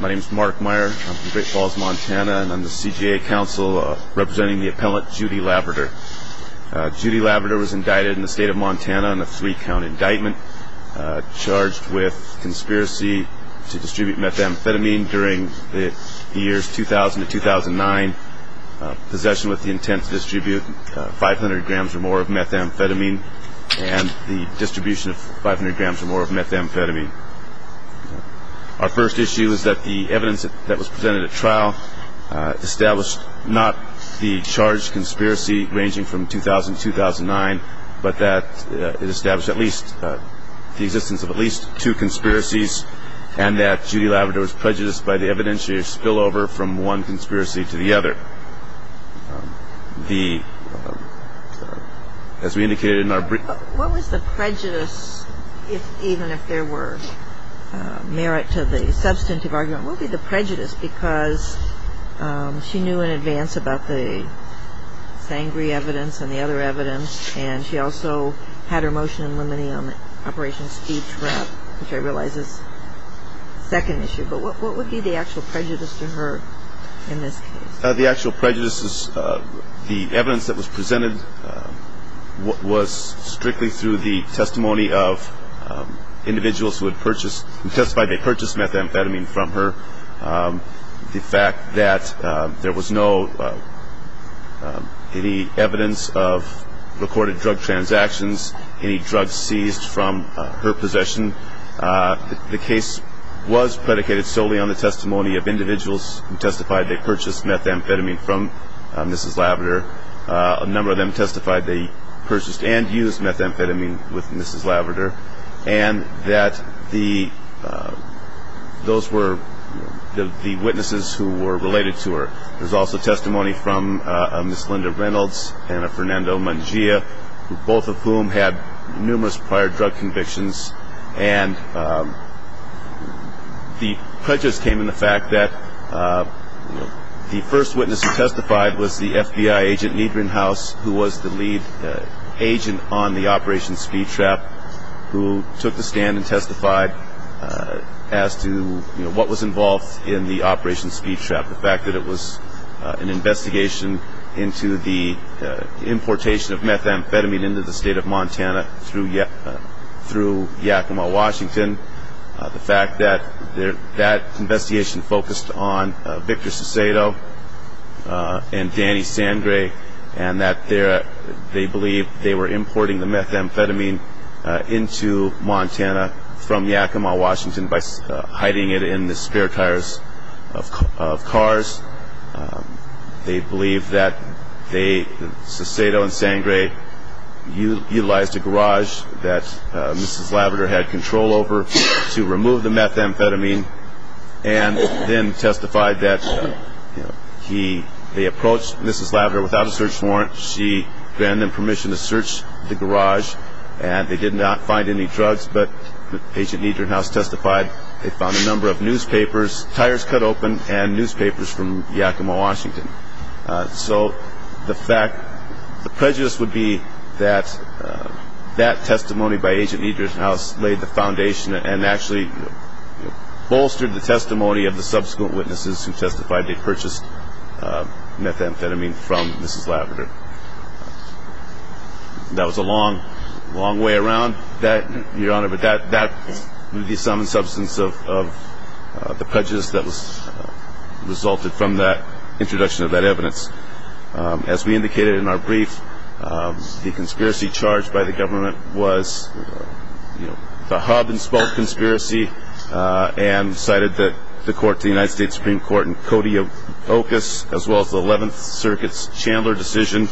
My name is Mark Meyer. I'm from Great Falls, Montana, and I'm the CJA counsel representing the appellant Judy Laverdure. Judy Laverdure was indicted in the state of Montana on a three-count indictment, charged with conspiracy to distribute methamphetamine during the years 2000 to 2009, possession with the intent to distribute 500 grams or more of methamphetamine, and the distribution of 500 grams or more of methamphetamine. Our first issue is that the evidence that was presented at trial established not the charged conspiracy ranging from 2000 to 2009, but that it established at least the existence of at least two conspiracies, and that Judy Laverdure was prejudiced by the evidentiary spillover from one conspiracy to the other. The – as we indicated in our – What was the prejudice, even if there were merit to the substantive argument? What would be the prejudice? Because she knew in advance about the sangry evidence and the other evidence, and she also had her motion in limine on Operation Speed Trap, which I realize is the second issue. But what would be the actual prejudice to her in this case? The actual prejudice is the evidence that was presented was strictly through the testimony of individuals who had purchased – who testified they purchased methamphetamine from her. The fact that there was no – any evidence of recorded drug transactions, any drugs seized from her possession. The case was predicated solely on the testimony of individuals who testified they purchased methamphetamine from Mrs. Laverdure. A number of them testified they purchased and used methamphetamine with Mrs. Laverdure, and that the – those were the witnesses who were related to her. There's also testimony from Ms. Linda Reynolds and Fernando Mangia, both of whom had numerous prior drug convictions. And the prejudice came in the fact that the first witness who testified was the FBI agent, Niedgrenhaus, who was the lead agent on the Operation Speed Trap, who took the stand and testified as to what was involved in the Operation Speed Trap. The fact that it was an investigation into the importation of methamphetamine into the state of Montana through Yakima, Washington. The fact that that investigation focused on Victor Sesato and Danny Sangre, and that they believe they were importing the methamphetamine into Montana from Yakima, Washington, by hiding it in the spare tires of cars. They believe that they, Sesato and Sangre, utilized a garage that Mrs. Laverdure had control over to remove the methamphetamine and then testified that he – they approached Mrs. Laverdure without a search warrant. She granted them permission to search the garage, and they did not find any drugs. But Agent Niedgrenhaus testified they found a number of newspapers, tires cut open, and newspapers from Yakima, Washington. So the fact – the prejudice would be that that testimony by Agent Niedgrenhaus laid the foundation and actually bolstered the testimony of the subsequent witnesses who testified they purchased methamphetamine from Mrs. Laverdure. That was a long, long way around that, Your Honor. But that would be some substance of the prejudice that resulted from that introduction of that evidence. As we indicated in our brief, the conspiracy charged by the government was, you know, the Hubb and Spolt conspiracy, and cited the court, the United States Supreme Court, and Cody Ocas, as well as the 11th Circuit's Chandler decision.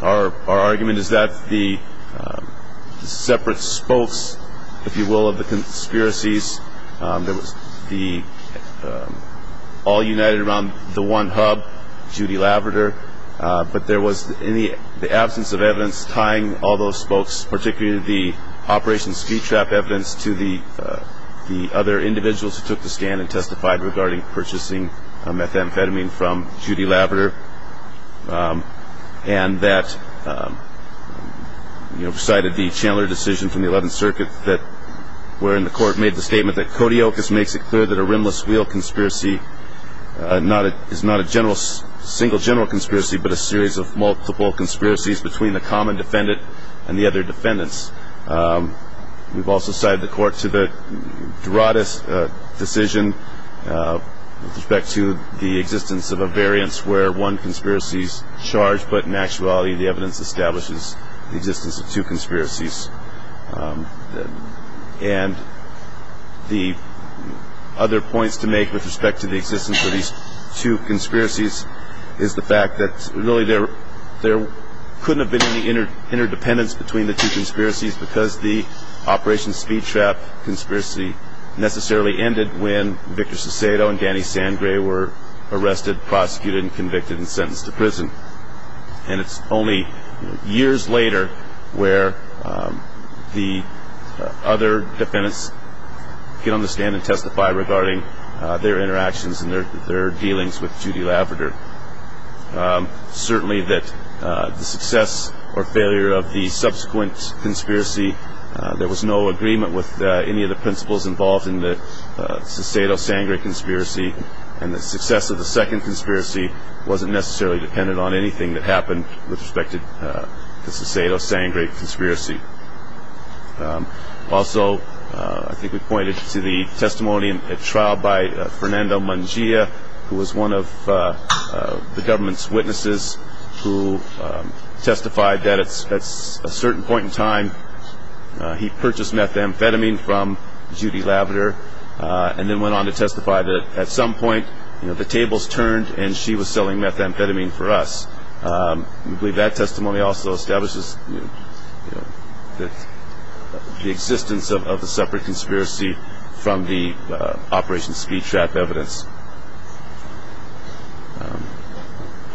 Our argument is that the separate spokes, if you will, of the conspiracies, that was the – all united around the one Hubb, Judy Laverdure, but there was in the absence of evidence tying all those spokes, particularly the Operation Speed Trap evidence, to the other individuals who took the scan and testified regarding purchasing methamphetamine from Judy Laverdure. And that, you know, cited the Chandler decision from the 11th Circuit, wherein the court made the statement that Cody Ocas makes it clear that a rimless wheel conspiracy is not a single general conspiracy, but a series of multiple conspiracies between the common defendant and the other defendants. We've also cited the court to the Doradas decision with respect to the existence of a variance where one conspiracy is charged, but in actuality the evidence establishes the existence of two conspiracies. And the other points to make with respect to the existence of these two conspiracies is the fact that really there couldn't have been any interdependence between the two conspiracies because the Operation Speed Trap conspiracy necessarily ended when Victor Sesedo and Danny Sangre were arrested, prosecuted, and convicted and sentenced to prison. And it's only years later where the other defendants can understand and testify regarding their interactions and their dealings with Judy Laverdure. Certainly that the success or failure of the subsequent conspiracy, there was no agreement with any of the principals involved in the Sesedo-Sangre conspiracy, and the success of the second conspiracy wasn't necessarily dependent on anything that happened with respect to the Sesedo-Sangre conspiracy. Also, I think we pointed to the testimony at trial by Fernando Mangia, who was one of the government's witnesses who testified that at a certain point in time he purchased methamphetamine from Judy Laverdure and then went on to testify that at some point the tables turned and she was selling methamphetamine for us. I believe that testimony also establishes the existence of the separate conspiracy from the Operation Speed Trap evidence.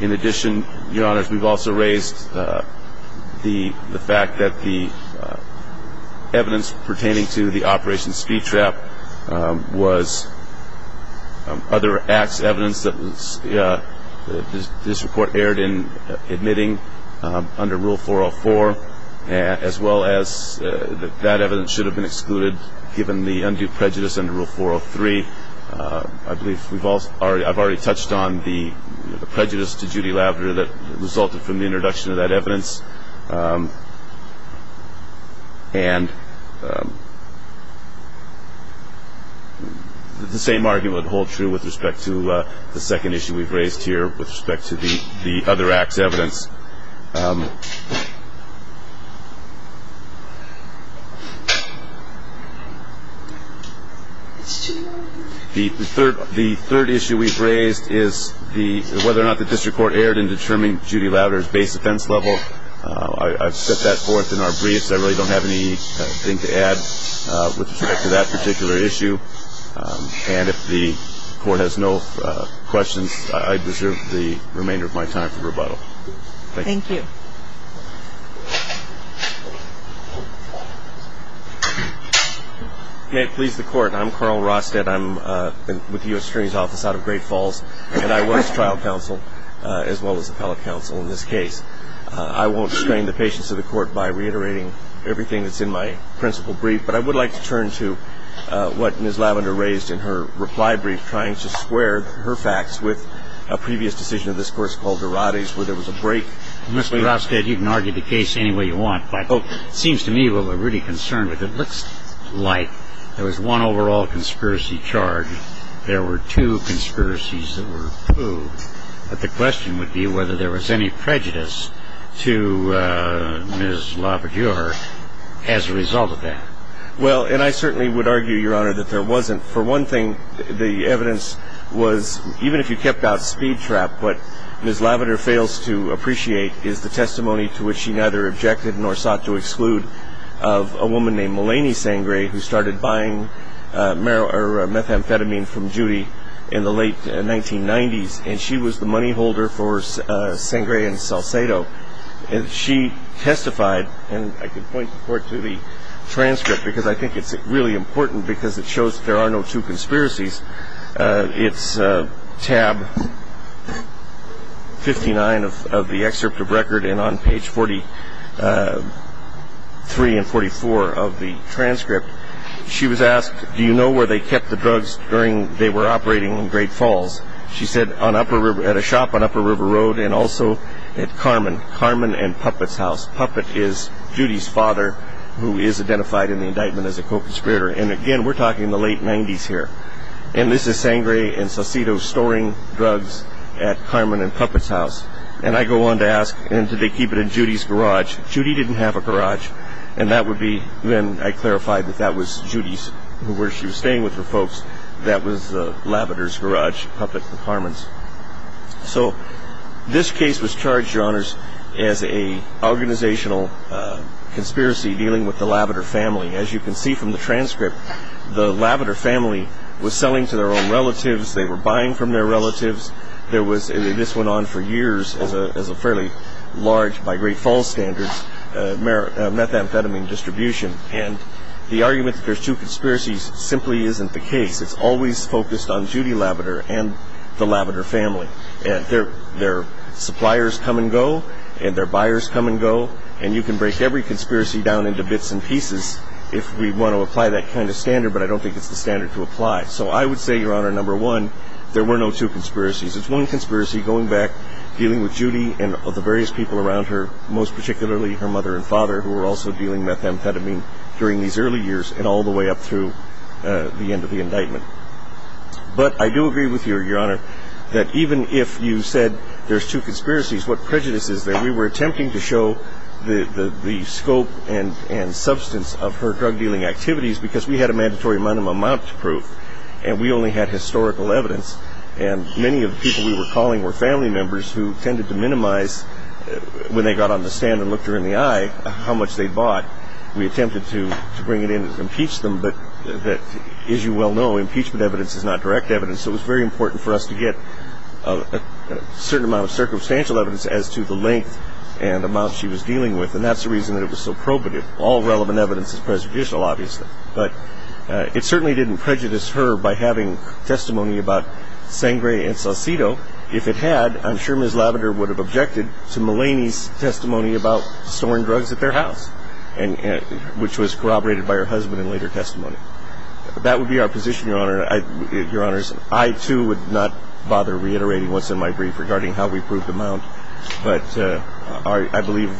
In addition, Your Honors, we've also raised the fact that the evidence pertaining to the Operation Speed Trap was other acts of evidence that this report erred in admitting under Rule 404, as well as that that evidence should have been excluded given the undue prejudice under Rule 403. I believe I've already touched on the prejudice to Judy Laverdure that resulted from the introduction of that evidence. And the same argument would hold true with respect to the second issue we've raised here with respect to the other acts of evidence. The third issue we've raised is whether or not the district court erred in determining Judy Laverdure's base defense level. I've set that forth in our briefs. I really don't have anything to add with respect to that particular issue. And if the court has no questions, I preserve the remainder of my time for rebuttal. Thank you. Thank you. May it please the Court, I'm Carl Rosted. I'm with the U.S. Attorney's Office out of Great Falls and I work as trial counsel as well as appellate counsel in this case. I won't strain the patience of the Court by reiterating everything that's in my principal brief, but I would like to turn to what Ms. Laverdure raised in her reply brief, trying to square her facts with a previous decision of this course called Durati's where there was a break. Mr. Rosted, you can argue the case any way you want, but it seems to me what we're really concerned with, it looks like there was one overall conspiracy charge. There were two conspiracies that were proved. But the question would be whether there was any prejudice to Ms. Laverdure as a result of that. Well, and I certainly would argue, Your Honor, that there wasn't. For one thing, the evidence was, even if you kept out speed trap, what Ms. Laverdure fails to appreciate is the testimony to which she neither objected nor sought to exclude of a woman named Mulaney Sangre who started buying methamphetamine from Judy in the late 1990s. And she was the money holder for Sangre and Salcedo. And she testified, and I can point the court to the transcript because I think it's really important because it shows there are no two conspiracies. It's tab 59 of the excerpt of record, and on page 43 and 44 of the transcript, she was asked, do you know where they kept the drugs during they were operating in Great Falls? She said, at a shop on Upper River Road and also at Carmen and Puppet's house. Puppet is Judy's father who is identified in the indictment as a co-conspirator. And, again, we're talking the late 90s here. And this is Sangre and Salcedo storing drugs at Carmen and Puppet's house. And I go on to ask, did they keep it in Judy's garage? Judy didn't have a garage, and that would be then I clarified that that was Judy's, that was Lavender's garage, Puppet's and Carmen's. So this case was charged, Your Honors, as an organizational conspiracy dealing with the Lavender family. As you can see from the transcript, the Lavender family was selling to their own relatives. They were buying from their relatives. This went on for years as a fairly large, by Great Falls standards, methamphetamine distribution. And the argument that there's two conspiracies simply isn't the case. It's always focused on Judy Lavender and the Lavender family. Their suppliers come and go, and their buyers come and go, and you can break every conspiracy down into bits and pieces if we want to apply that kind of standard, but I don't think it's the standard to apply. So I would say, Your Honor, number one, there were no two conspiracies. It's one conspiracy going back, dealing with Judy and the various people around her, most particularly her mother and father, who were also dealing with methamphetamine during these early years and all the way up through the end of the indictment. But I do agree with you, Your Honor, that even if you said there's two conspiracies, what prejudice is there? We were attempting to show the scope and substance of her drug-dealing activities because we had a mandatory minimum amount to prove, and we only had historical evidence, and many of the people we were calling were family members who tended to minimize, when they got on the stand and looked her in the eye, how much they'd bought. We attempted to bring it in and impeach them, but as you well know, impeachment evidence is not direct evidence, so it was very important for us to get a certain amount of circumstantial evidence as to the length and amount she was dealing with, and that's the reason that it was so probative. All relevant evidence is prejudicial, obviously, but it certainly didn't prejudice her by having testimony about Sangre and Salcido. If it had, I'm sure Ms. Lavender would have objected to Mullaney's testimony about storing drugs at their house, which was corroborated by her husband in later testimony. That would be our position, Your Honor. I, too, would not bother reiterating what's in my brief regarding how we proved the amount, but I believe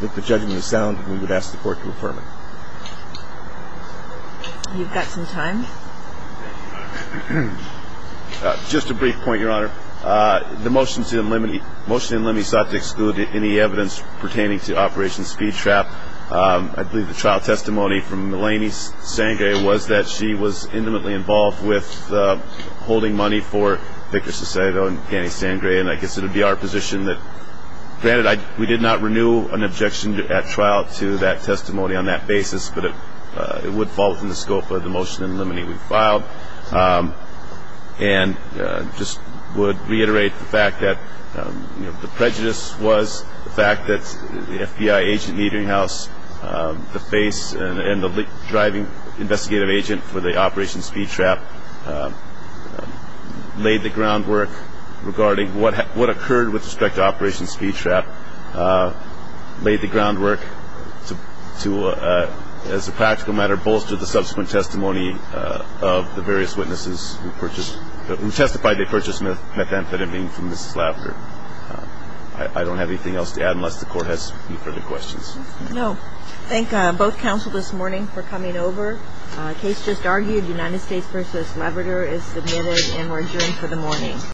that the judgment is sound, and we would ask the Court to affirm it. You've got some time. Just a brief point, Your Honor. The motion in limi sought to exclude any evidence pertaining to Operation Speed Trap. I believe the trial testimony from Mullaney Sangre was that she was intimately involved with holding money for Victor Salcido and Danny Sangre, and I guess it would be our position that, granted, we did not renew an objection at trial to that testimony on that basis, but it would fall within the scope of the motion in limi we filed, and just would reiterate the fact that the prejudice was the fact that the FBI agent meeting house, the face and the driving investigative agent for the Operation Speed Trap, laid the groundwork regarding what occurred with respect to Operation Speed Trap, laid the groundwork to, as a practical matter, bolster the subsequent testimony of the various witnesses who testified they purchased methamphetamine from Mrs. Lafter. I don't have anything else to add unless the Court has any further questions. No. Thank both counsel this morning for coming over. The case just argued, United States v. Labrador, is submitted and we're adjourned for the morning.